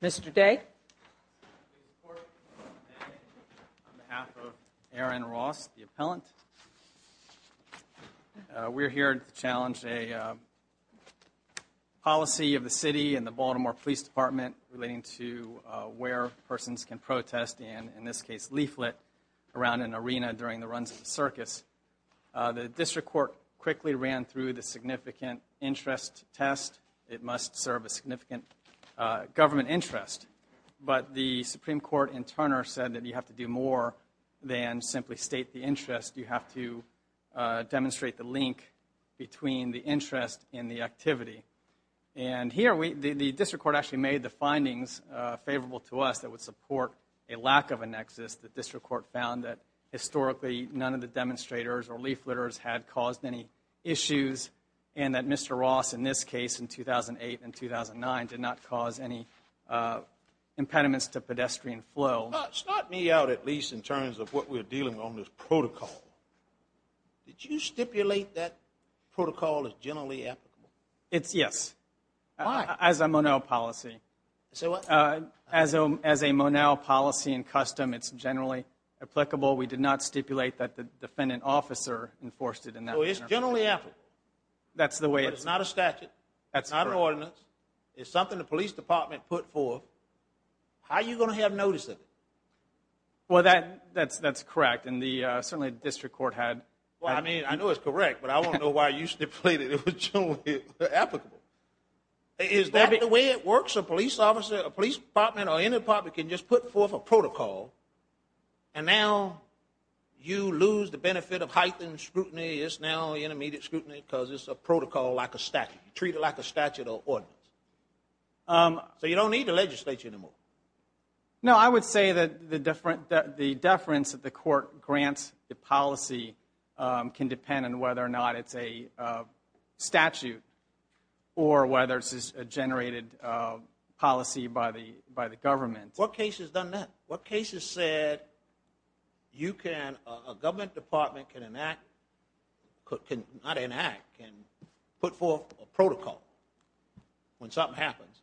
Mr. Day, on behalf of Aaron Ross, the appellant, we are here to challenge a court of appeals policy of the city and the Baltimore Police Department relating to where persons can protest, and in this case, leaflet, around an arena during the runs of the circus. The district court quickly ran through the significant interest test. It must serve a significant government interest, but the Supreme Court in Turner said that you have to do more than simply state the interest. You have to demonstrate the link between the interest and the activity, and here, the district court actually made the findings favorable to us that would support a lack of a nexus. The district court found that, historically, none of the demonstrators or leafleters had caused any issues, and that Mr. Ross, in this case, in 2008 and 2009, did not cause any impediments to pedestrian flow. Now, start me out, at least, in terms of what we're dealing with on this protocol. Did you stipulate that protocol is generally applicable? It's yes. Why? As a Monell policy. Say what? As a Monell policy in custom, it's generally applicable. We did not stipulate that the defendant officer enforced it in that manner. Oh, it's generally applicable. That's the way it's... But it's not a statute. That's correct. It's not an ordinance. It's something the police department put forth. How are you going to have notice of it? Well, that's correct, and certainly the district court had... Well, I mean, I know it's correct, but I want to know why you stipulated it was generally applicable. Is that the way it works? A police officer, a police department, or any department can just put forth a protocol, and now you lose the benefit of heightened scrutiny. It's now intermediate scrutiny because it's a protocol like a statute. You treat it like a statute or ordinance. So you don't need the legislature anymore. No, I would say that the deference that the court grants the policy can depend on whether or not it's a statute or whether it's a generated policy by the government. What case has done that? What case has said you can... not enact, can put forth a protocol when something happens,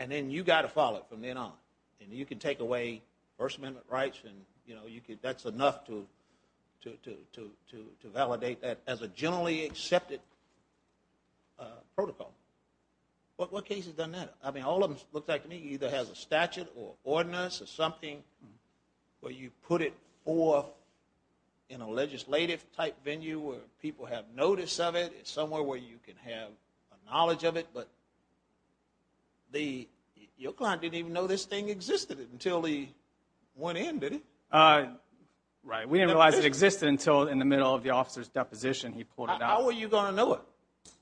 and then you've got to follow it from then on, and you can take away First Amendment rights, and that's enough to validate that as a generally accepted protocol. What case has done that? I mean, all of them look like to me either has a statute or ordinance or something where you put it forth in a legislative-type venue where people have notice of it, somewhere where you can have a knowledge of it, but your client didn't even know this thing existed until he went in, did he? Right. We didn't realize it existed until in the middle of the officer's deposition he pulled it out. How were you going to know it?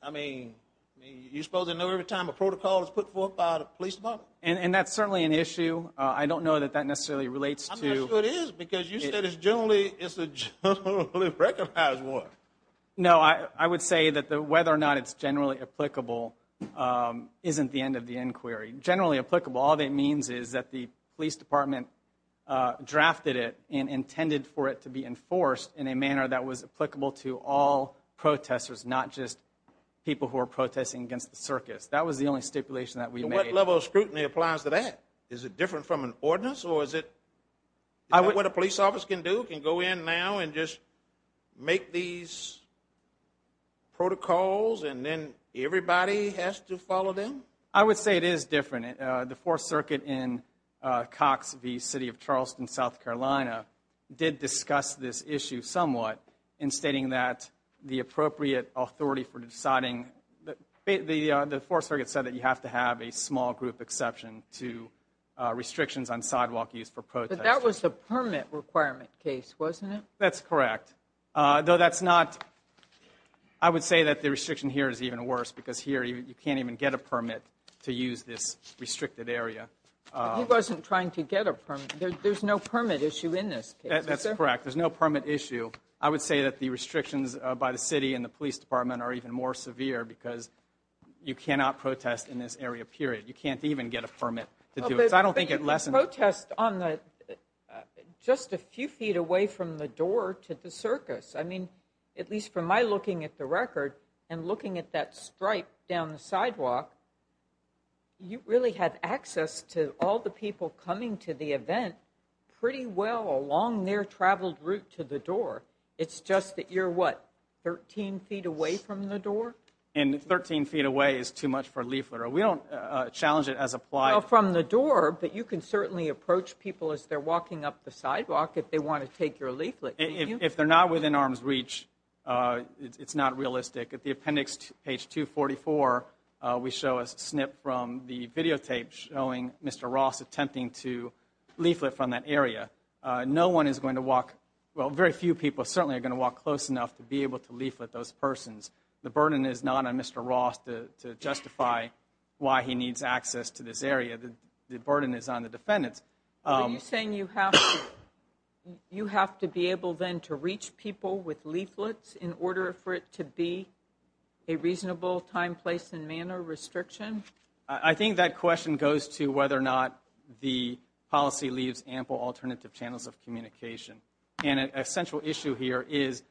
I mean, you're supposed to know every time a protocol is put forth by the police department. And that's certainly an issue. I don't know that that necessarily relates to... I'm not sure it is, because you said it's generally, it's a generally recognized one. No, I would say that whether or not it's generally applicable isn't the end of the inquiry. Generally applicable, all that it means is that the police department drafted it and intended for it to be enforced in a manner that was applicable to all protesters, not just people who are protesting against the circus. That was the only stipulation that we made. What level of scrutiny applies to that? Is it different from an ordinance, or is it what a police officer can do, can go in now and just make these protocols and then everybody has to follow them? I would say it is different. The Fourth Circuit in Cox v. City of Charleston, South Carolina, did discuss this issue somewhat in stating that the appropriate authority for deciding... The Fourth Circuit said that you have to have a small group exception to restrictions on sidewalk use for protest. But that was the permit requirement case, wasn't it? That's correct. Though that's not... I would say that the restriction here is even worse, because here you can't even get a permit to use this restricted area. He wasn't trying to get a permit. There's no permit issue in this case. That's correct. There's no permit issue. I would say that the restrictions by the city and the police department are even more severe because you cannot protest in this area, period. You can't even get a permit to do it. I don't think it lessens... But you can protest just a few feet away from the door to the circus. I mean, at least from my looking at the record and looking at that stripe down the sidewalk, you really have access to all the people coming to the event pretty well along their traveled route to the door. It's just that you're, what, 13 feet away from the door? And 13 feet away is too much for a leaflet. We don't challenge it as applied. Well, from the door, but you can certainly approach people as they're walking up the sidewalk if they want to take your leaflet, can't you? If they're not within arm's reach, it's not realistic. At the appendix, page 244, we show a snip from the videotape showing Mr. Ross attempting to leaflet from that area. No one is going to walk... Well, very few people certainly are going to walk close enough to be able to leaflet those persons. The burden is not on Mr. Ross to justify why he needs access to this area. The burden is on the defendants. Are you saying you have to be able then to reach people with leaflets in order for it to be a reasonable time, place, and manner restriction? I think that question goes to whether or not the policy leaves ample alternative channels of communication. And a central issue here is,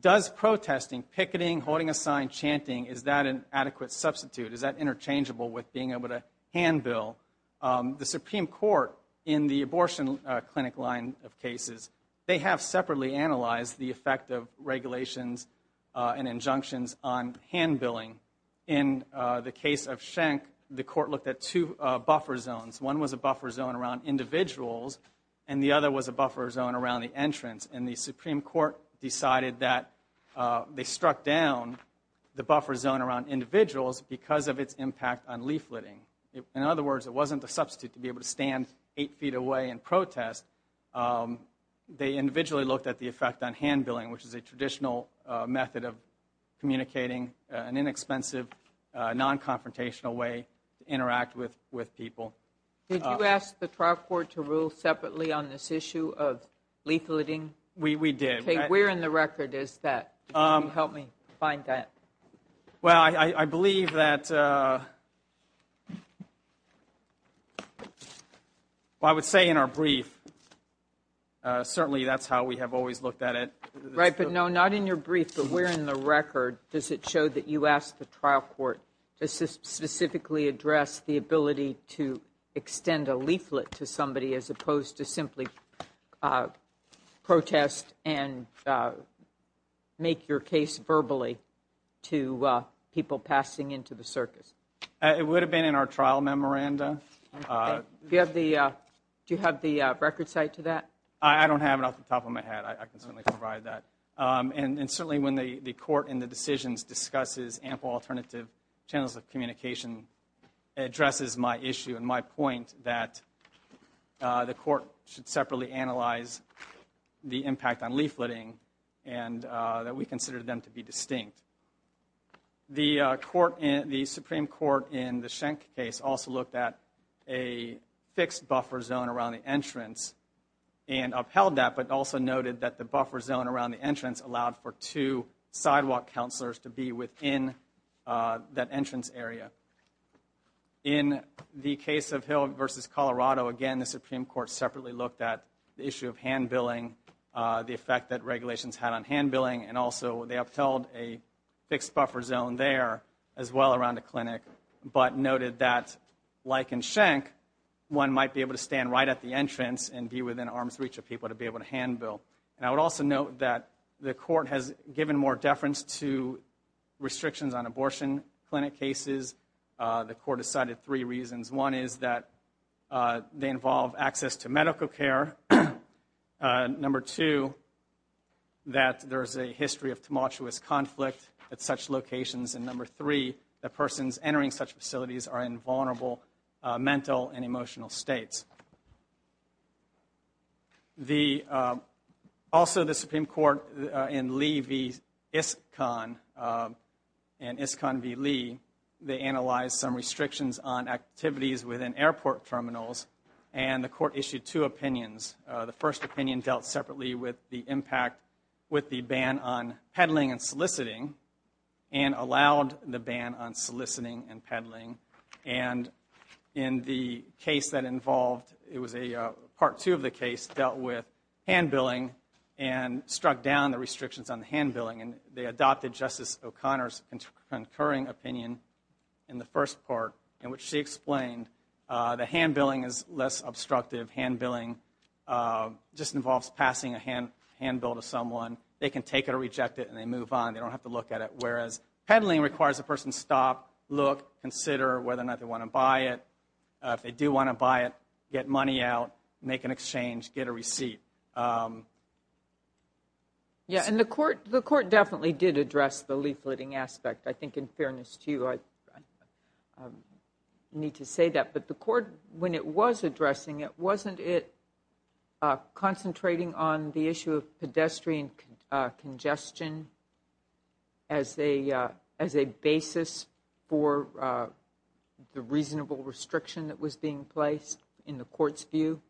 does protesting, picketing, holding a sign, chanting, is that an adequate substitute? Is that interchangeable with being able to hand bill? The Supreme Court in the abortion clinic line of cases, they have separately analyzed the effect of regulations and injunctions on hand billing. In the case of Schenck, the court looked at two buffer zones. One was a buffer zone around individuals, and the other was a buffer zone around the entrance. And the Supreme Court decided that they struck down the buffer zone around individuals because of its impact on leafletting. In other words, it wasn't a substitute to be able to stand eight feet away and protest. They individually looked at the effect on hand billing, which is a traditional method of communicating, an inexpensive, non-confrontational way to interact with people. Did you ask the trial court to rule separately on this issue of leafletting? We did. Where in the record is that? Can you help me find that? Well, I believe that, well, I would say in our brief. Certainly that's how we have always looked at it. Right, but no, not in your brief, but where in the record does it show that you asked the trial court to specifically address the ability to extend a leaflet to somebody as opposed to simply protest and make your case verbally to people passing into the circus? It would have been in our trial memoranda. Do you have the record site to that? I can certainly provide that. And certainly when the court in the decisions discusses ample alternative channels of communication, it addresses my issue and my point that the court should separately analyze the impact on leafletting and that we consider them to be distinct. The Supreme Court in the Schenck case also looked at a fixed buffer zone around the entrance and upheld that, but also noted that the buffer zone around the entrance allowed for two sidewalk counselors to be within that entrance area. In the case of Hill v. Colorado, again, the Supreme Court separately looked at the issue of hand billing, the effect that regulations had on hand billing, and also they upheld a fixed buffer zone there as well around the clinic, but noted that like in Schenck, one might be able to stand right at the entrance and be within arm's reach of people to be able to hand bill. And I would also note that the court has given more deference to restrictions on abortion clinic cases. The court decided three reasons. One is that they involve access to medical care. Number two, that there is a history of tumultuous conflict at such locations. Also, the Supreme Court in Lee v. Iskcon and Iskcon v. Lee, they analyzed some restrictions on activities within airport terminals, and the court issued two opinions. The first opinion dealt separately with the impact with the ban on peddling and soliciting and allowed the ban on soliciting and peddling. And in the case that involved, it was a part two of the case dealt with hand billing and struck down the restrictions on the hand billing, and they adopted Justice O'Connor's concurring opinion in the first part in which she explained the hand billing is less obstructive. Hand billing just involves passing a hand bill to someone. They can take it or reject it and they move on. They don't have to look at it. Whereas peddling requires a person to stop, look, consider whether or not they want to buy it. If they do want to buy it, get money out, make an exchange, get a receipt. Yeah, and the court definitely did address the leafleting aspect. I think in fairness to you, I need to say that. But the court, when it was addressing it, wasn't it concentrating on the issue of pedestrian congestion as a basis for the reasonable restriction that was being placed in the court's view?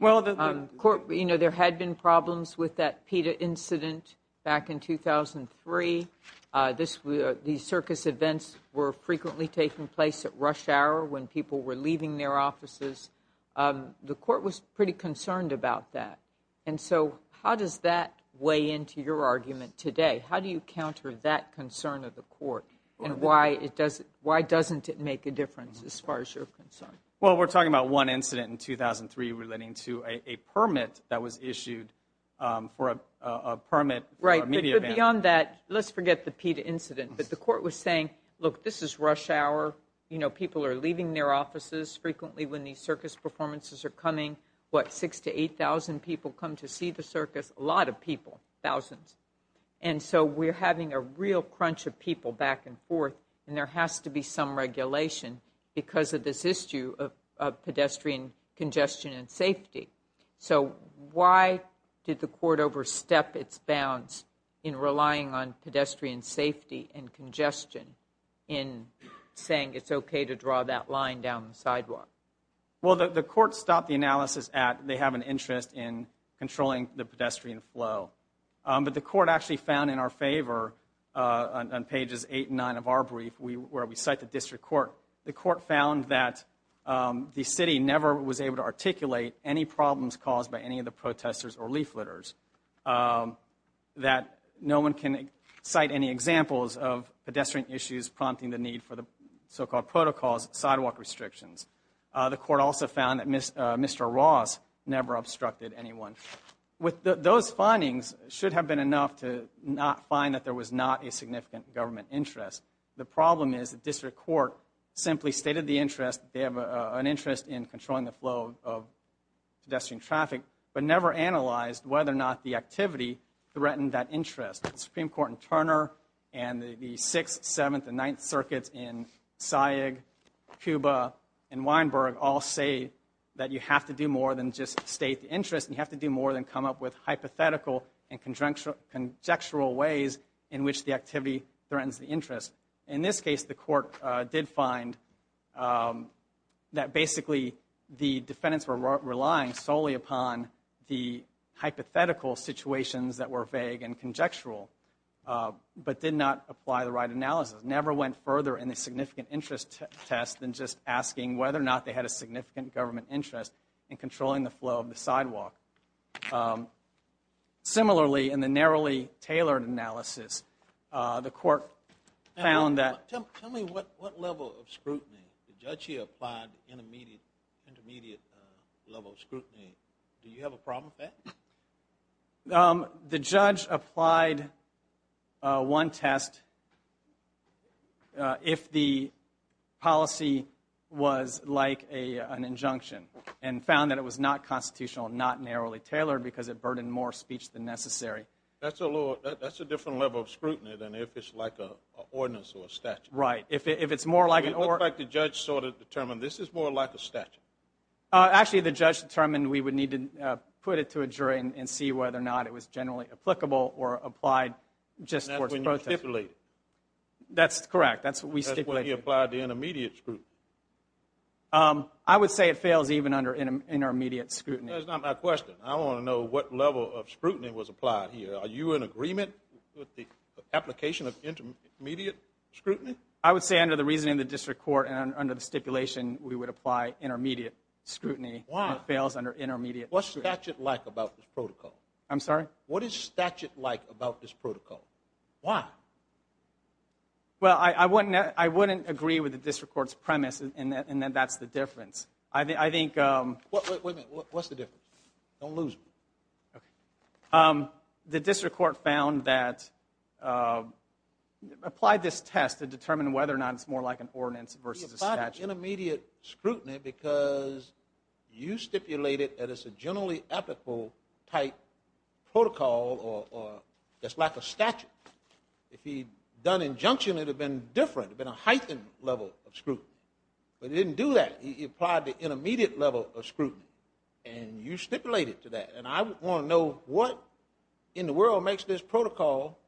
You know, there had been problems with that PETA incident back in 2003. These circus events were frequently taking place at rush hour when people were leaving their offices. The court was pretty concerned about that. And so how does that weigh into your argument today? How do you counter that concern of the court? And why doesn't it make a difference as far as you're concerned? Well, we're talking about one incident in 2003 relating to a permit that was issued for a permit. Right. But beyond that, let's forget the PETA incident. But the court was saying, look, this is rush hour. You know, people are leaving their offices frequently when these circus performances are coming. What, 6,000 to 8,000 people come to see the circus? A lot of people, thousands. And so we're having a real crunch of people back and forth, and there has to be some regulation because of this issue of pedestrian congestion and safety. So why did the court overstep its bounds in relying on pedestrian safety and congestion in saying it's okay to draw that line down the sidewalk? Well, the court stopped the analysis at they have an interest in controlling the pedestrian flow. But the court actually found in our favor, on pages 8 and 9 of our brief where we cite the district court, the court found that the city never was able to articulate any problems caused by any of the protesters or leafleters, that no one can cite any examples of pedestrian issues prompting the need for the so-called protocols sidewalk restrictions. The court also found that Mr. Ross never obstructed anyone. With those findings, it should have been enough to not find that there was not a significant government interest. The problem is the district court simply stated the interest, they have an interest in controlling the flow of pedestrian traffic, but never analyzed whether or not the activity threatened that interest. The Supreme Court in Turner and the 6th, 7th, and 9th circuits in Sayegh, Cuba, and Weinberg all say that you have to do more than just state the interest. You have to do more than come up with hypothetical and conjectural ways in which the activity threatens the interest. In this case, the court did find that basically the defendants were relying solely upon the but did not apply the right analysis. Never went further in the significant interest test than just asking whether or not they had a significant government interest in controlling the flow of the sidewalk. Similarly, in the narrowly tailored analysis, the court found that... Tell me what level of scrutiny the judge here applied, intermediate level of scrutiny. Do you have a problem with that? The judge applied one test if the policy was like an injunction and found that it was not constitutional and not narrowly tailored because it burdened more speech than necessary. That's a different level of scrutiny than if it's like an ordinance or a statute. Right, if it's more like an... It looks like the judge sort of determined this is more like a statute. Actually, the judge determined we would need to put it to a jury and see whether or not it was generally applicable or applied just for... That's when you stipulate it. That's correct. That's what we stipulated. That's when you applied the intermediate scrutiny. I would say it fails even under intermediate scrutiny. That's not my question. I want to know what level of scrutiny was applied here. Are you in agreement with the application of intermediate scrutiny? I would say under the reasoning of the district court and under the stipulation, we would apply intermediate scrutiny. Why? It fails under intermediate scrutiny. What's statute like about this protocol? I'm sorry? What is statute like about this protocol? Why? Well, I wouldn't agree with the district court's premise in that that's the difference. I think... Wait a minute. What's the difference? Don't lose me. The district court found that... Applied this test to determine whether or not it's more like an ordinance versus a statute. He applied intermediate scrutiny because you stipulated that it's a generally applicable type protocol or that's like a statute. If he'd done injunction, it would have been different. It would have been a heightened level of scrutiny. But he didn't do that. He applied the intermediate level of scrutiny, and you stipulated to that. And I want to know what in the world makes this protocol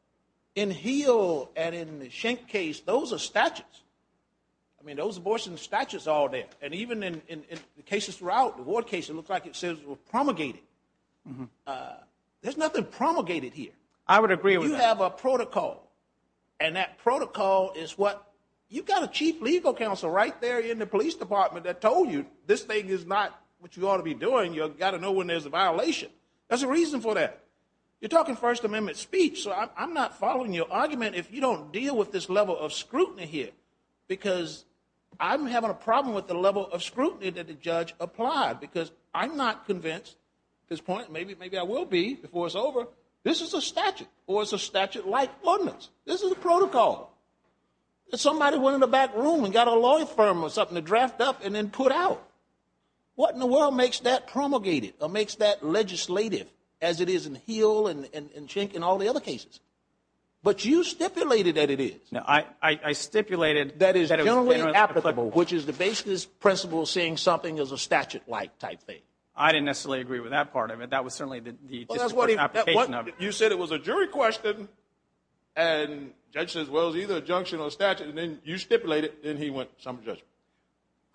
in HEAL and in the Schenck case, those are statutes. I mean, those abortion statutes are all there. And even in the cases throughout, the Ward case, it looks like it says promulgated. There's nothing promulgated here. I would agree with that. You have a protocol, and that protocol is what you've got a chief legal counsel right there in the police department that told you this thing is not what you ought to be doing. You've got to know when there's a violation. There's a reason for that. You're talking First Amendment speech. So I'm not following your argument if you don't deal with this level of scrutiny here because I'm having a problem with the level of scrutiny that the judge applied because I'm not convinced at this point, maybe I will be before it's over, this is a statute or it's a statute like ordinance. This is a protocol. Somebody went in the back room and got a law firm or something to draft up and then put out. What in the world makes that promulgated or makes that legislative as it is in HEAL and CHINC and all the other cases? But you stipulated that it is. I stipulated that it was generally applicable, which is the basis principle seeing something as a statute-like type thing. I didn't necessarily agree with that part of it. That was certainly the application of it. You said it was a jury question and judge says, well, it's either a junction or a statute, and then you stipulate it, then he went to some judgment.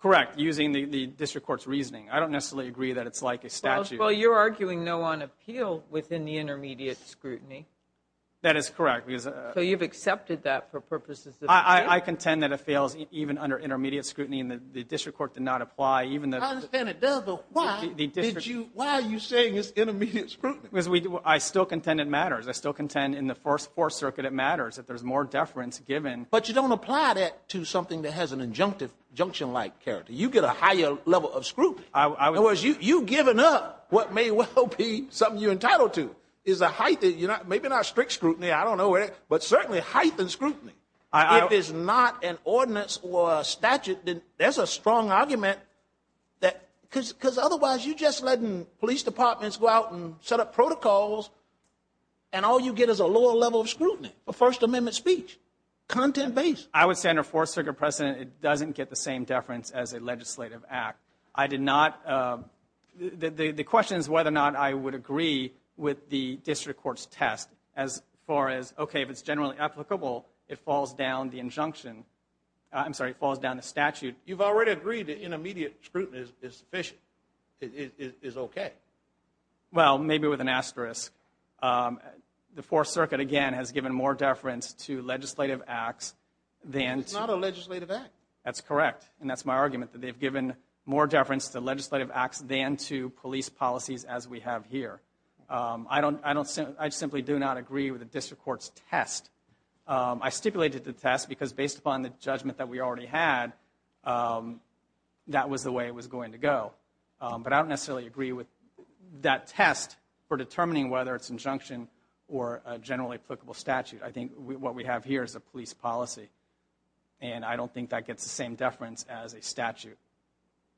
Correct, using the district court's reasoning. I don't necessarily agree that it's like a statute. Well, you're arguing no on appeal within the intermediate scrutiny. That is correct. So you've accepted that for purposes of the case? I contend that it fails even under intermediate scrutiny and the district court did not apply. I understand it does, but why are you saying it's intermediate scrutiny? I still contend it matters. I still contend in the First Fourth Circuit it matters if there's more deference given. But you don't apply that to something that has an injunctive, junction-like character. You get a higher level of scrutiny. In other words, you've given up what may well be something you're entitled to. Maybe not strict scrutiny, I don't know, but certainly heightened scrutiny. If it's not an ordinance or a statute, then there's a strong argument. Because otherwise you're just letting police departments go out and set up protocols, and all you get is a lower level of scrutiny, a First Amendment speech. Content-based. I would say under Fourth Circuit precedent, it doesn't get the same deference as a legislative act. I did not, the question is whether or not I would agree with the district court's test as far as, okay, if it's generally applicable, it falls down the injunction. I'm sorry, it falls down the statute. You've already agreed that intermediate scrutiny is sufficient, is okay. Well, maybe with an asterisk. The Fourth Circuit, again, has given more deference to legislative acts than to... It's not a legislative act. That's correct. And that's my argument, that they've given more deference to legislative acts than to police policies as we have here. I simply do not agree with the district court's test. I stipulated the test because based upon the judgment that we already had, that was the way it was going to go. But I don't necessarily agree with that test for determining whether it's injunction or a generally applicable statute. I think what we have here is a police policy, and I don't think that gets the same deference as a statute,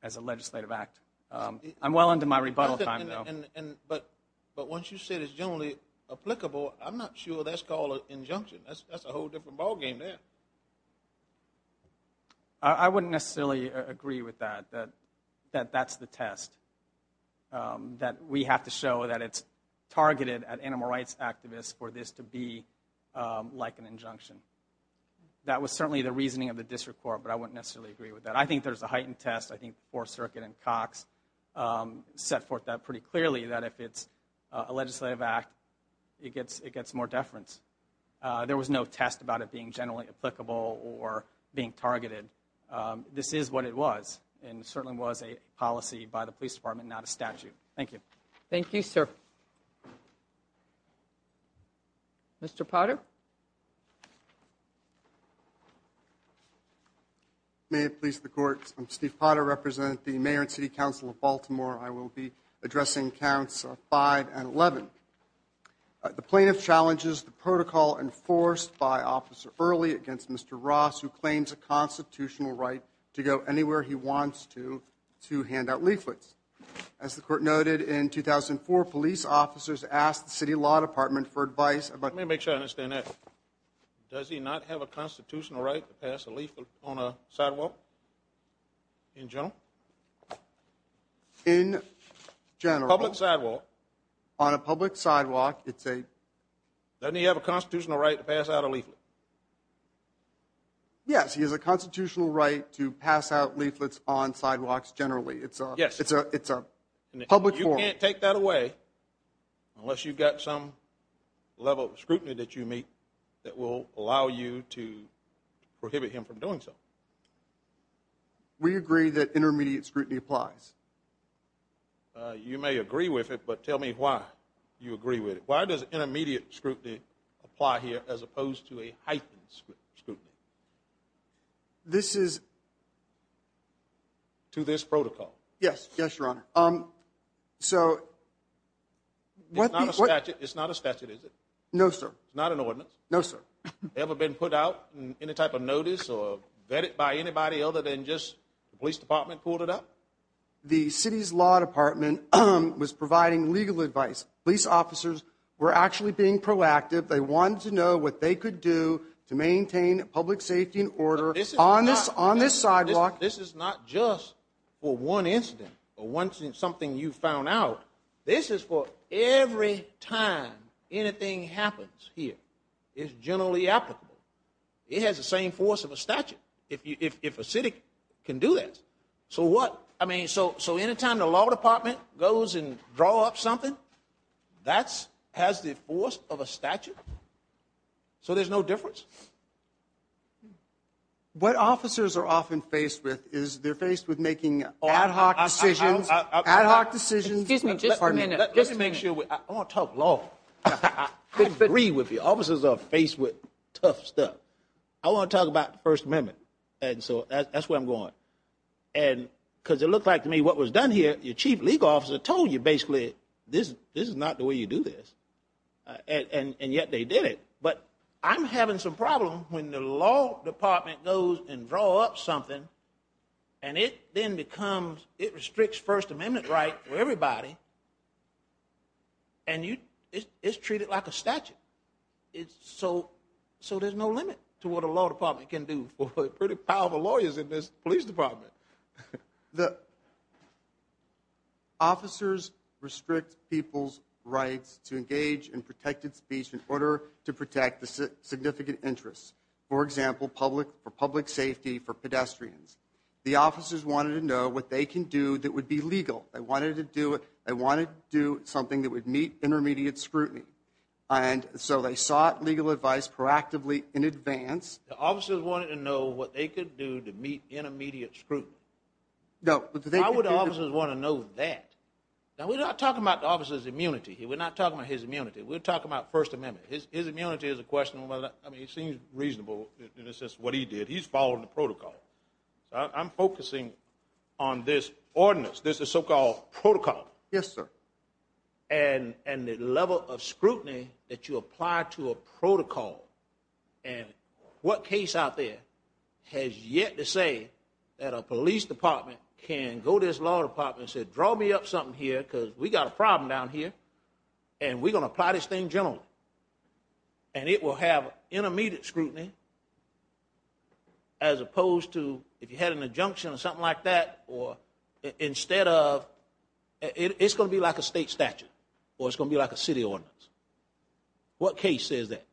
as a legislative act. I'm well into my rebuttal time now. But once you say it's generally applicable, I'm not sure that's called an injunction. That's a whole different ballgame there. I wouldn't necessarily agree with that, that that's the test. That we have to show that it's targeted at animal rights activists for this to be like an injunction. That was certainly the reasoning of the district court, but I wouldn't necessarily agree with that. I think there's a heightened test. I think the Fourth Circuit and Cox set forth that pretty clearly, that if it's a legislative act, it gets more deference. There was no test about it being generally applicable or being targeted. This is what it was, and it certainly was a policy by the police department, not a statute. Thank you. Thank you, sir. Mr. Potter? May it please the Court, I'm Steve Potter, representing the Mayor and City Council of Baltimore. I will be addressing Counts 5 and 11. The plaintiff challenges the protocol enforced by Officer Early against Mr. Ross, who claims a constitutional right to go anywhere he wants to to hand out leaflets. As the Court noted in 2004, police officers asked the City Law Department for advice about... Let me make sure I understand that. Does he not have a constitutional right to pass a leaflet on a sidewalk? In general? In general. Public sidewalk. On a public sidewalk, it's a... Doesn't he have a constitutional right to pass out a leaflet? Yes, he has a constitutional right to pass out leaflets on sidewalks generally. Yes. It's a public forum. You can't take that away unless you've got some level of scrutiny that you meet that will allow you to prohibit him from doing so. We agree that intermediate scrutiny applies. You may agree with it, but tell me why you agree with it. Why does intermediate scrutiny apply here as opposed to a heightened scrutiny? This is... To this protocol? Yes. Yes, Your Honor. So... It's not a statute, is it? No, sir. It's not an ordinance? No, sir. Ever been put out on any type of notice or vetted by anybody other than just the police department pulled it up? The city's law department was providing legal advice. Police officers were actually being proactive. They wanted to know what they could do to maintain public safety and order on this sidewalk. This is not just for one incident or something you found out. This is for every time anything happens here. It's generally applicable. It has the same force of a statute if a city can do this. So what? I mean, so any time the law department goes and draws up something, that has the force of a statute? So there's no difference? What officers are often faced with is they're faced with making ad hoc decisions. Ad hoc decisions. Excuse me. Just a minute. Let me make sure. I want to talk law. I agree with you. Officers are faced with tough stuff. I want to talk about the First Amendment. That's where I'm going. Because it looked like to me what was done here, your chief legal officer told you basically this is not the way you do this, and yet they did it. But I'm having some problem when the law department goes and draws up something, and it then becomes, it restricts First Amendment rights for everybody, and it's treated like a statute. So there's no limit to what a law department can do for the pretty powerful lawyers in this police department. Officers restrict people's rights to engage in protected speech in order to protect the significant interests. For example, for public safety, for pedestrians. The officers wanted to know what they can do that would be legal. They wanted to do something that would meet intermediate scrutiny. And so they sought legal advice proactively in advance. The officers wanted to know what they could do to meet intermediate scrutiny. No. Why would officers want to know that? Now we're not talking about the officer's immunity. We're not talking about his immunity. We're talking about First Amendment. His immunity is a question of whether, I mean, it seems reasonable in a sense what he did. He's following the protocol. I'm focusing on this ordinance. This is so-called protocol. Yes, sir. And the level of scrutiny that you apply to a protocol and what case out there has yet to say that a police department can go to this law department and say, draw me up something here because we've got a problem down here, and we're going to apply this thing generally. And it will have intermediate scrutiny as opposed to if you had an injunction or something like that, or instead of it's going to be like a state statute or it's going to be like a city ordinance. What case says that?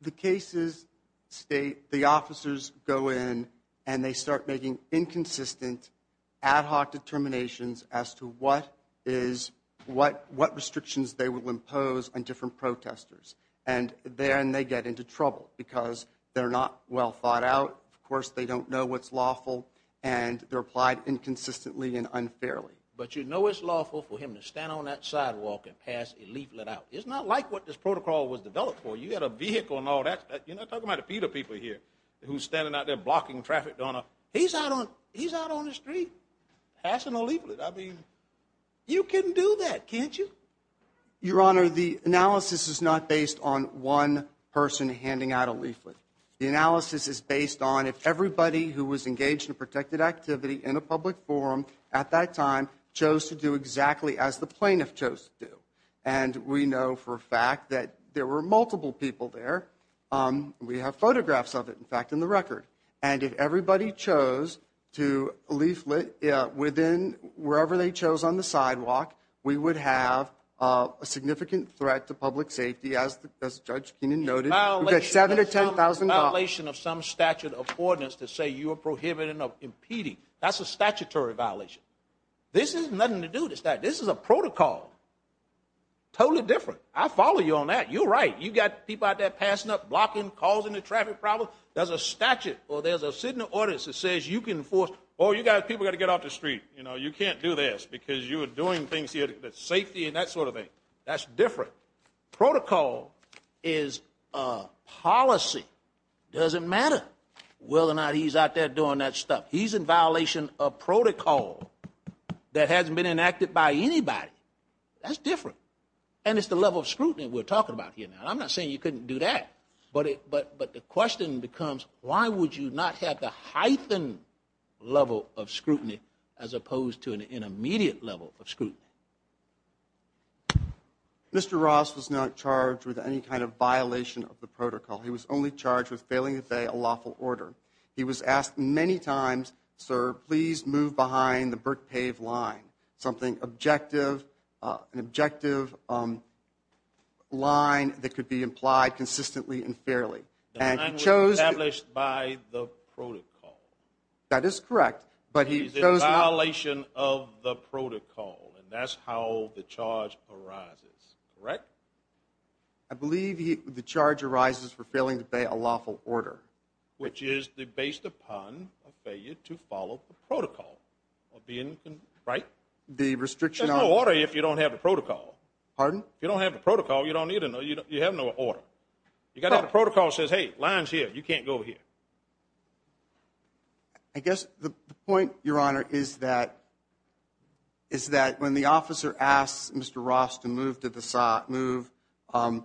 The cases state the officers go in and they start making inconsistent ad hoc determinations as to what is, what restrictions they will impose on different protesters. And then they get into trouble because they're not well thought out. Of course they don't know what's lawful and they're applied inconsistently and unfairly. But you know, it's lawful for him to stand on that sidewalk and pass a leaflet out. It's not like what this protocol was developed for. You had a vehicle and all that. You're not talking about a few of the people here who's standing out there blocking traffic, Donna he's out on, he's out on the street, passing a leaflet. I mean, you can do that. Can't you? Your honor, the analysis is not based on one person handing out a leaflet. The analysis is based on if everybody who was engaged in a protected activity in a public forum at that time, chose to do exactly as the plaintiff chose to do. And we know for a fact that there were multiple people there. We have photographs of it, in fact, in the record. And if everybody chose to leaflet within wherever they chose on the sidewalk, we would have a significant threat to public safety. As the judge noted, seven to 10,000 violation of some statute of ordinance to say you are prohibited of impeding. That's a statutory violation. This has nothing to do with this. That this is a protocol. Totally different. I follow you on that. You're right. You got people out there passing up, blocking, causing a traffic problem. There's a statute or there's a signal audits. It says you can force, or you guys, people got to get off the street. You know, you can't do this because you were doing things here that safety and that sort of thing. That's different. Protocol is a policy. It doesn't matter whether or not he's out there doing that stuff. He's in violation of protocol that hasn't been enacted by anybody. That's different. And it's the level of scrutiny we're talking about here. Now, I'm not saying you couldn't do that, but it, but, but the question becomes, why would you not have the hyphen level of scrutiny as opposed to an intermediate level of scrutiny? Mr. Ross was not charged with any kind of violation of the protocol. He was only charged with failing to obey a lawful order. He was asked many times, sir, please move behind the brick pave line, something objective, an objective line that could be implied consistently and fairly. And he chose. Established by the protocol. That is correct. But he is in violation of the protocol. And that's how the charge arises. Correct. I believe he, the charge arises for failing to pay a lawful order, which is the based upon a failure to follow the protocol of being right. The restriction on water. If you don't have the protocol, pardon? If you don't have the protocol, you don't need to know you don't, you have no order. You got to have a protocol says, Hey, lines here. You can't go here. I guess the point your honor is that. Is that when the officer asks Mr. Ross to move to the side, move to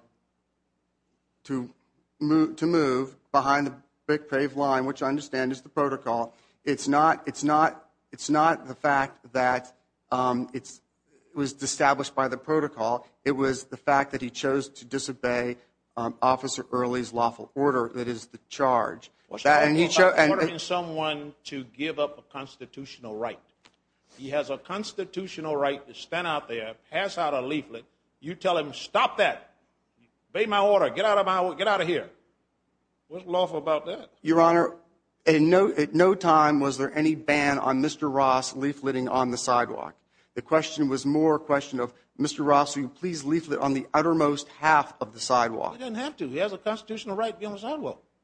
move to move behind the big pave line, which I understand is the protocol. It's not. It's not. It's not the fact that it was established by the protocol. It was the fact that he chose to disobey officer early is lawful order. That is the charge. Someone to give up a constitutional right. He has a constitutional right to stand out there, pass out a leaflet. You tell him, stop that. Be my order. Get out of my, get out of here. What's lawful about that? Your honor. And no, at no time, was there any ban on Mr. Ross leafleting on the sidewalk? The question was more question of Mr. Ross. You please leaflet on the uttermost half of the sidewalk. He doesn't have to. He has a constitutional right.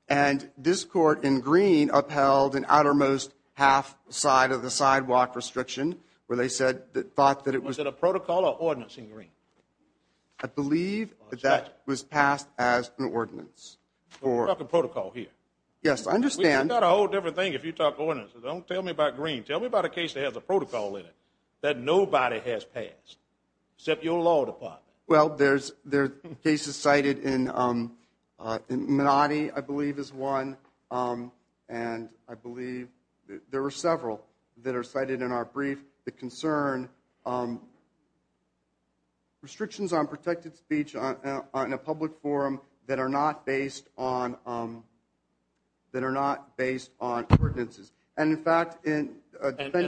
And this court in green upheld an outermost half side of the sidewalk restriction where they said that thought that it was at a protocol or ordinance in green. I believe that that was passed as an ordinance or a protocol here. Yes. I understand that a whole different thing. If you talk ordinance, don't tell me about green. Tell me about a case. They have the protocol in it that nobody has passed except your law department. Well, there's there cases cited in I believe is one. And I believe there were several that are cited in our brief, the concern restrictions on protected speech on a public forum that are not based on that are not based on ordinances. And in fact, in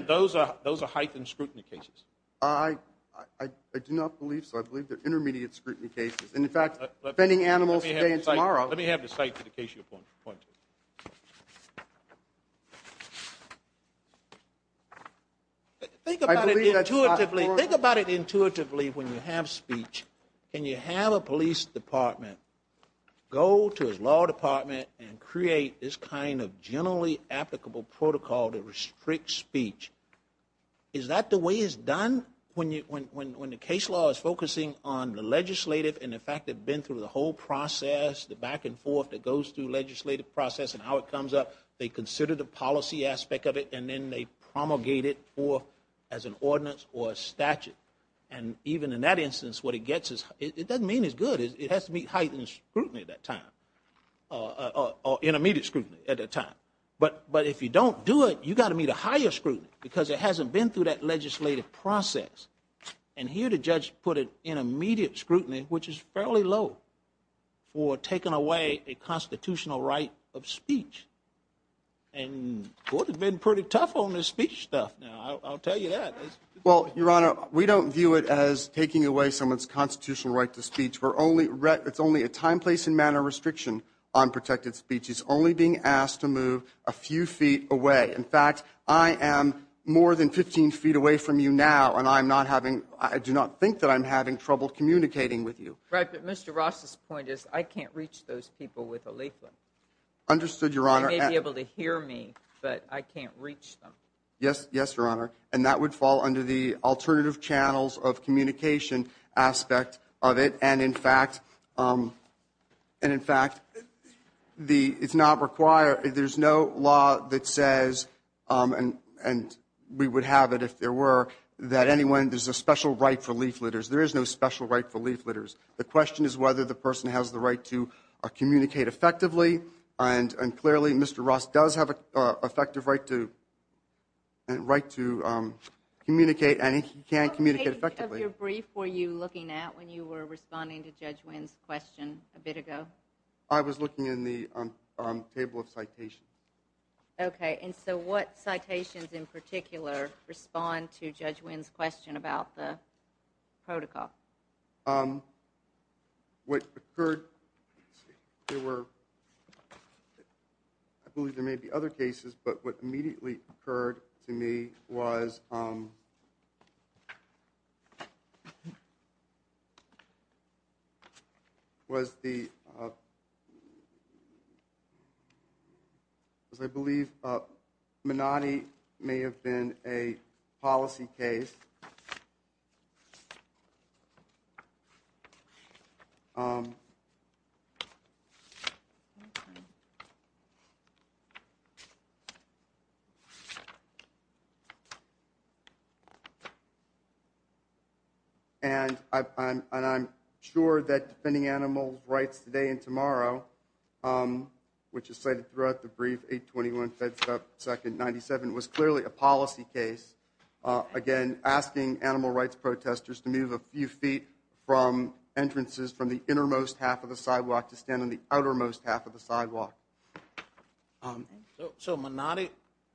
those, those are heightened scrutiny cases. I, I do not believe so. I believe they're intermediate scrutiny cases. And in fact, defending animals today and tomorrow, let me have the site for the case. You have one point. Think about it intuitively. Think about it intuitively. When you have speech and you have a police department, go to his law department and create this kind of generally applicable protocol to restrict speech. Is that the way it's done? When you, when, when, when the case law is focusing on the legislative and the fact that been through the whole process, the back and forth that goes through legislative process and how it comes up, they consider the policy aspect of it and then they promulgate it for as an ordinance or a statute. And even in that instance, what it gets is it doesn't mean as good as it has to meet heightened scrutiny at that time or intermediate scrutiny at that time. But, but if you don't do it, you got to meet a higher scrutiny because it hasn't been through that legislative process. And here to judge, put it in immediate scrutiny, which is fairly low for taking away a constitutional right of speech. And what has been pretty tough on this speech stuff. Now I'll tell you that. Well, Your Honor, we don't view it as taking away someone's constitutional right to speech for only rec. It's only a time, place and manner restriction on protected speeches, only being asked to move a few feet away. In fact, I am more than 15 feet away from you now, and I'm not having, I do not think that I'm having trouble communicating with you. Right. But Mr. Ross's point is I can't reach those people with a leaflet. Understood. Your Honor may be able to hear me, but I can't reach them. Yes. Yes, Your Honor. And that would fall under the alternative channels of communication aspect of it. And in fact, and in fact, the, it's not required. There's no law that says, and we would have it if there were, that anyone, there's a special right for leafletters. There is no special right for leafletters. The question is whether the person has the right to communicate effectively. And clearly, Mr. Ross does have an effective right to, and right to communicate. And he can't communicate effectively. What page of your brief were you looking at when you were responding to Judge Wynn's question a bit ago? I was looking in the table of citations. Okay. And so what citations in particular respond to Judge Wynn's question about the protocol? What occurred, there were, I believe there may be other cases, but what immediately occurred to me was, was the was, I believe Menotti may have been a policy case. And I, I'm, and I'm sure that defending animals rights today and tomorrow, which is cited throughout the brief, 821 Fed stuff. Second 97 was clearly a policy case. Again, asking animal rights protesters to move a few feet from entrances from the innermost half of the sidewalk to stand on the outermost half of the sidewalk. So Menotti,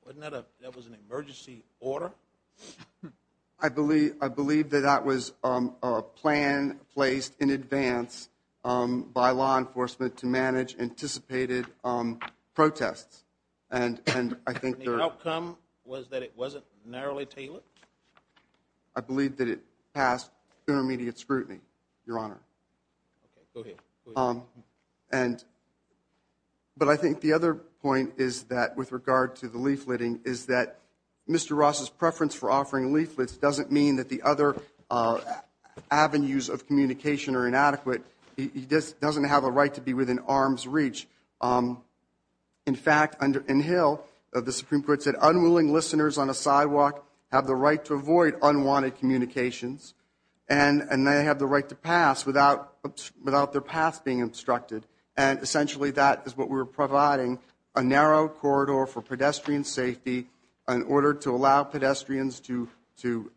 wasn't that a, that was an emergency order. I believe, I believe that that was a plan placed in advance by law enforcement to manage anticipated protests. And, and I think the outcome was that it wasn't narrowly tailored. I believe that it passed intermediate scrutiny, Your Honor. Okay. Go ahead. And, but I think the other point is that with regard to the leafletting is that Mr. Ross's preference for offering leaflets doesn't mean that the other avenues of communication are inadequate. He just doesn't have a right to be within arm's reach. In fact, under inhale of the Supreme court said unwilling listeners on a sidewalk have the right to avoid unwanted communications and, and they have the right to pass without, without their paths being obstructed. And essentially that is what we're providing a narrow corridor for pedestrian safety in order to allow pedestrians to, to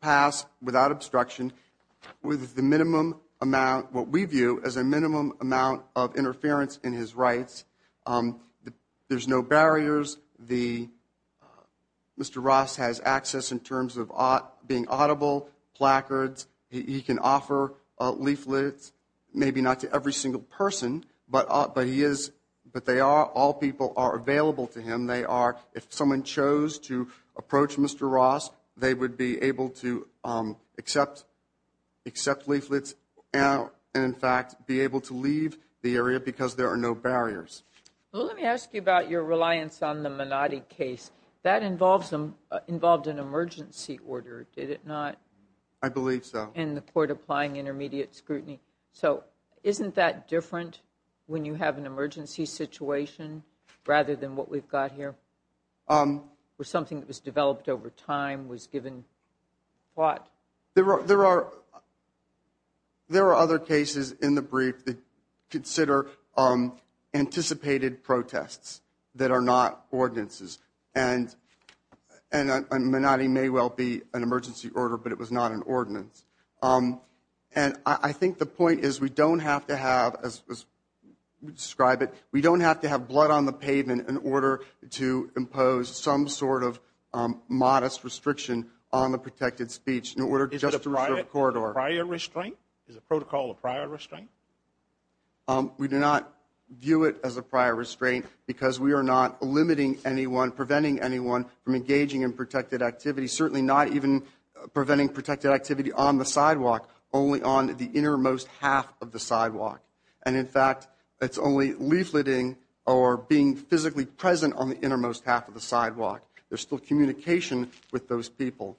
pass without obstruction with the minimum, amount what we view as a minimum amount of interference in his rights. There's no barriers. The Mr. Ross has access in terms of being audible placards. He can offer leaflets, maybe not to every single person, but, but he is, but they are, all people are available to him. They are, if someone chose to approach Mr. Ross, they would be able to accept, accept leaflets out. And in fact, be able to leave the area because there are no barriers. Well, let me ask you about your reliance on the minority case that involves them involved in emergency order. Did it not? I believe so. And the court applying intermediate scrutiny. So isn't that different when you have an emergency situation rather than what we've got here, um, or something that was developed over time was given. What there are, there are, there are other cases in the brief that consider, um, anticipated protests that are not ordinances. And, and, and not, he may well be an emergency order, but it was not an ordinance. Um, and I think the point is we don't have to have, as we describe it, we don't have to have blood on the pavement in order to impose some sort of, um, modest restriction, um, a protected speech in order just to record or prior restraint is a protocol of prior restraint. Um, we do not view it as a prior restraint because we are not limiting anyone preventing anyone from engaging in protected activity, certainly not even preventing protected activity on the sidewalk, only on the innermost half of the sidewalk. And in fact, sidewalk. There's still communication with those people.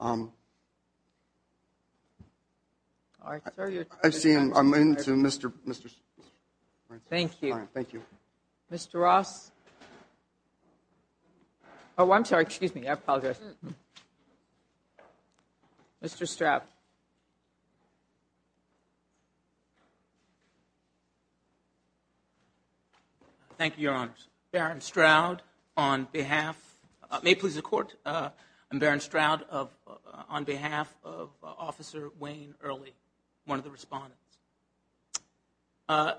Um, all right. I've seen him. I'm into Mr. Mr. Thank you. Thank you. Mr. Ross. Oh, I'm sorry. Excuse me. I apologize. Mr. Stroud. Thank you. Thank you, Your Honors. Barron Stroud on behalf, uh, may please the court. Uh, I'm Barron Stroud of, uh, on behalf of, uh, officer Wayne early, one of the respondents, uh,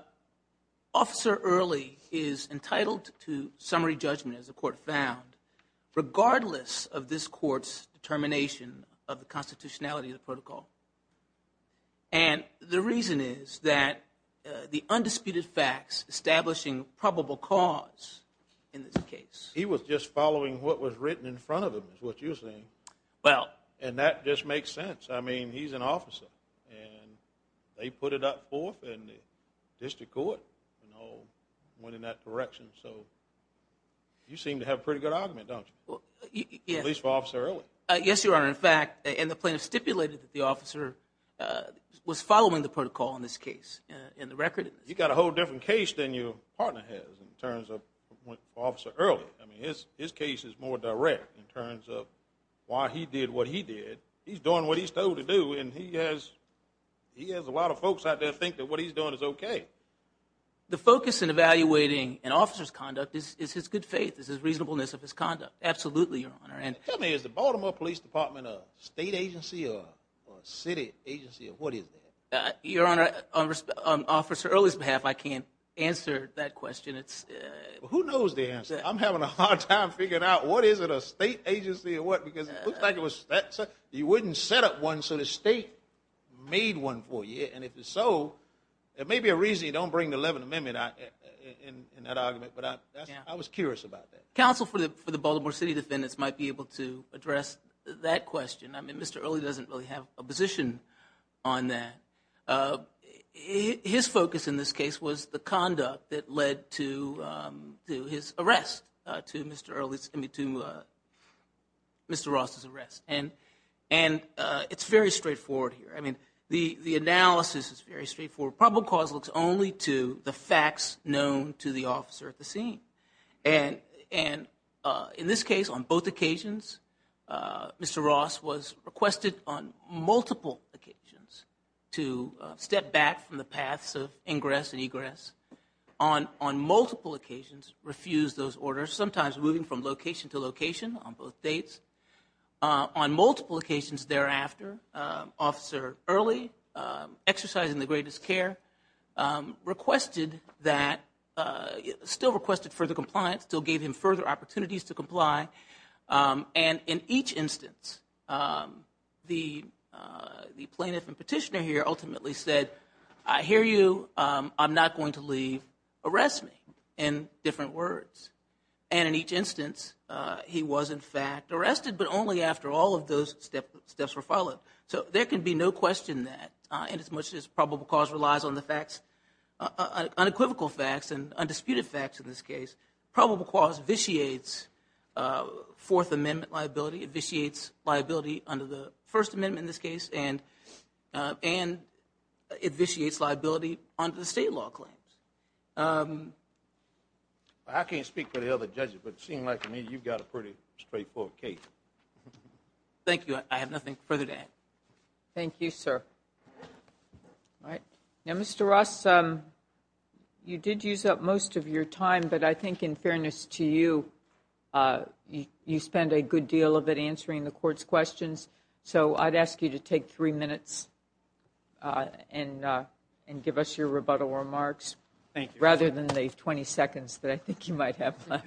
officer early is entitled to summary judgment as the court found, regardless of this court's determination of the constitutionality of the protocol. And the reason is that, uh, the undisputed facts establishing probable cause in this case, he was just following what was written in front of them is what you're saying. Well, and that just makes sense. I mean, he's an officer and they put it up forth and the district court, you know, went in that direction. So you seem to have a pretty good argument, don't you? Well, at least for officer early. Uh, yes, Your Honor. In fact, and the plaintiff stipulated that the officer, uh, was following the protocol in this case. Uh, in the record, you got a whole different case than your partner has in terms of officer early. I mean, his, his case is more direct in terms of why he did what he did. He's doing what he's told to do. And he has, he has a lot of folks out there think that what he's doing is okay. The focus in evaluating an officer's conduct is, is his good faith is his reasonableness of his conduct. Absolutely. Your Honor. And tell me, is the Baltimore police department, a state agency or city agency or what is that? Your Honor, on officer early's behalf, I can't answer that question. It's who knows the answer. I'm having a hard time figuring out what is it, a state agency or what, because it looks like it was that you wouldn't set up one. So the state made one for you. And if so, it may be a reason you don't bring the 11th amendment in that argument. But I, I was curious about that council for the, for the Baltimore city defendants might be able to address that question. I mean, Mr. Early doesn't really have a position on that. His focus in this case was the conduct that led to, to his arrest, to Mr. Early's, to Mr. Ross's arrest. And, and it's very straightforward here. I mean, the, the analysis is very straightforward. Probably cause looks only to the facts known to the officer at the scene. And, and in this case, on both occasions, Mr. Ross was requested on multiple occasions to step back from the paths of ingress and egress on, on multiple occasions, refuse those orders, sometimes moving from location to location on both dates, on multiple occasions. Thereafter, officer early, exercising the greatest care requested that still requested for the compliance, still gave him further opportunities to comply. And in each instance, the, the plaintiff and petitioner here ultimately said, I hear you. I'm not going to leave arrest me in different words. And in each instance, he was in fact arrested, but only after all of those steps, steps were followed. So there can be no question that, and as much as probable cause relies on the facts, unequivocal facts and undisputed facts. In this case, probable cause vitiates, uh, fourth amendment liability. It vitiates liability under the first amendment in this case. And, uh, and it vitiates liability under the state law claims. Um, I can't speak for the other judges, but it seemed like to me, you've got a pretty straightforward case. Thank you. I have nothing further to add. Thank you, sir. All right. Now, Mr. Ross, um, you did use up most of your time, but I think in fairness to you, uh, you, you spend a good deal of it answering the court's questions. So I'd ask you to take three minutes, uh, and, uh, and give us your rebuttal remarks. Thank you. Rather than the 20 seconds that I think you might have. Uh,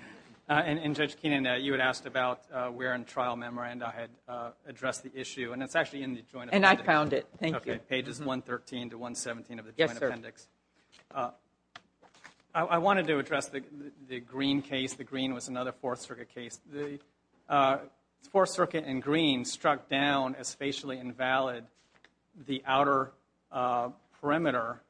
and, and judge Keenan, uh, you had asked about, uh, where in trial memorandum I had, uh, addressed the issue and it's actually in the joint. And I found it. Thank you. Okay. Pages 113 to 117 of the joint appendix. Uh, I wanted to address the, the green case. The green was another fourth circuit case. The, uh, fourth circuit and green struck down as facially invalid, the outer, uh, perimeter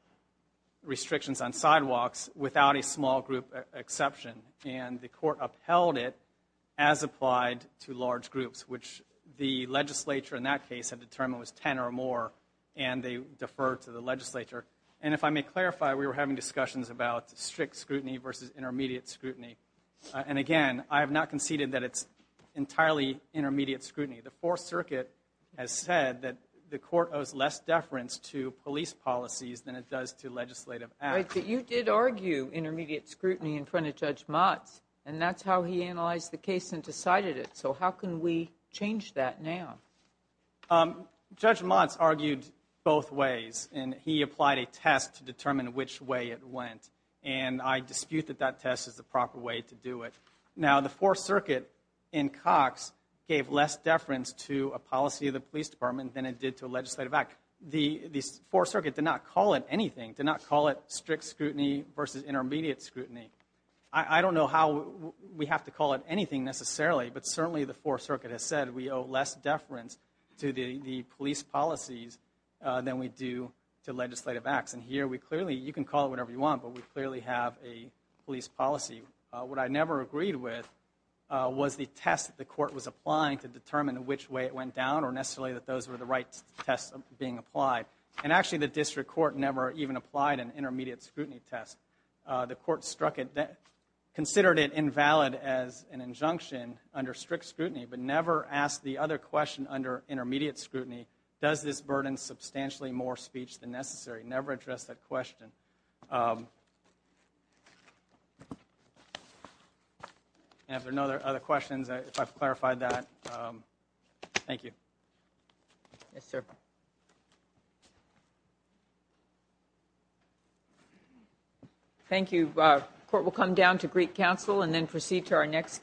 restrictions on sidewalks without a small group exception. And the court upheld it as applied to large groups, which the legislature in that case had determined was 10 or more. And they deferred to the legislature. And if I may clarify, we were having discussions about strict scrutiny versus intermediate scrutiny. Uh, and again, I have not conceded that it's entirely intermediate scrutiny. The fourth circuit has said that the court owes less deference to police policies than it does to legislative. You did argue intermediate scrutiny in front of judge Mott's and that's how he analyzed the case and decided it. So how can we change that now? Um, judge Mott's argued both ways and he applied a test to determine which way it went. And I dispute that that test is the proper way to do it. Now, the fourth circuit in Cox gave less deference to a policy of the police department than it did to a legislative act. The four circuit did not call it anything, did not call it strict scrutiny versus intermediate scrutiny. I don't know how we have to call it anything necessarily, but certainly the fourth circuit has said we owe less deference to the police policies, uh, than we do to legislative acts. And here we clearly, you can call it whatever you want, but we clearly have a police policy. Uh, what I never agreed with, uh, was the test that the court was applying to determine which way it went down or necessarily that those were the right tests being applied. And actually the district court never even applied an intermediate scrutiny test. Uh, the court struck it that considered it invalid as an injunction under strict scrutiny, but never asked the other question under intermediate scrutiny, does this burden substantially more speech than necessary? Never addressed that question. Um, and if there are no other questions, if I've clarified that, um, thank you. Yes, sir. Thank you. Thank you. Uh, court will come down to Greek council and then proceed to our next case.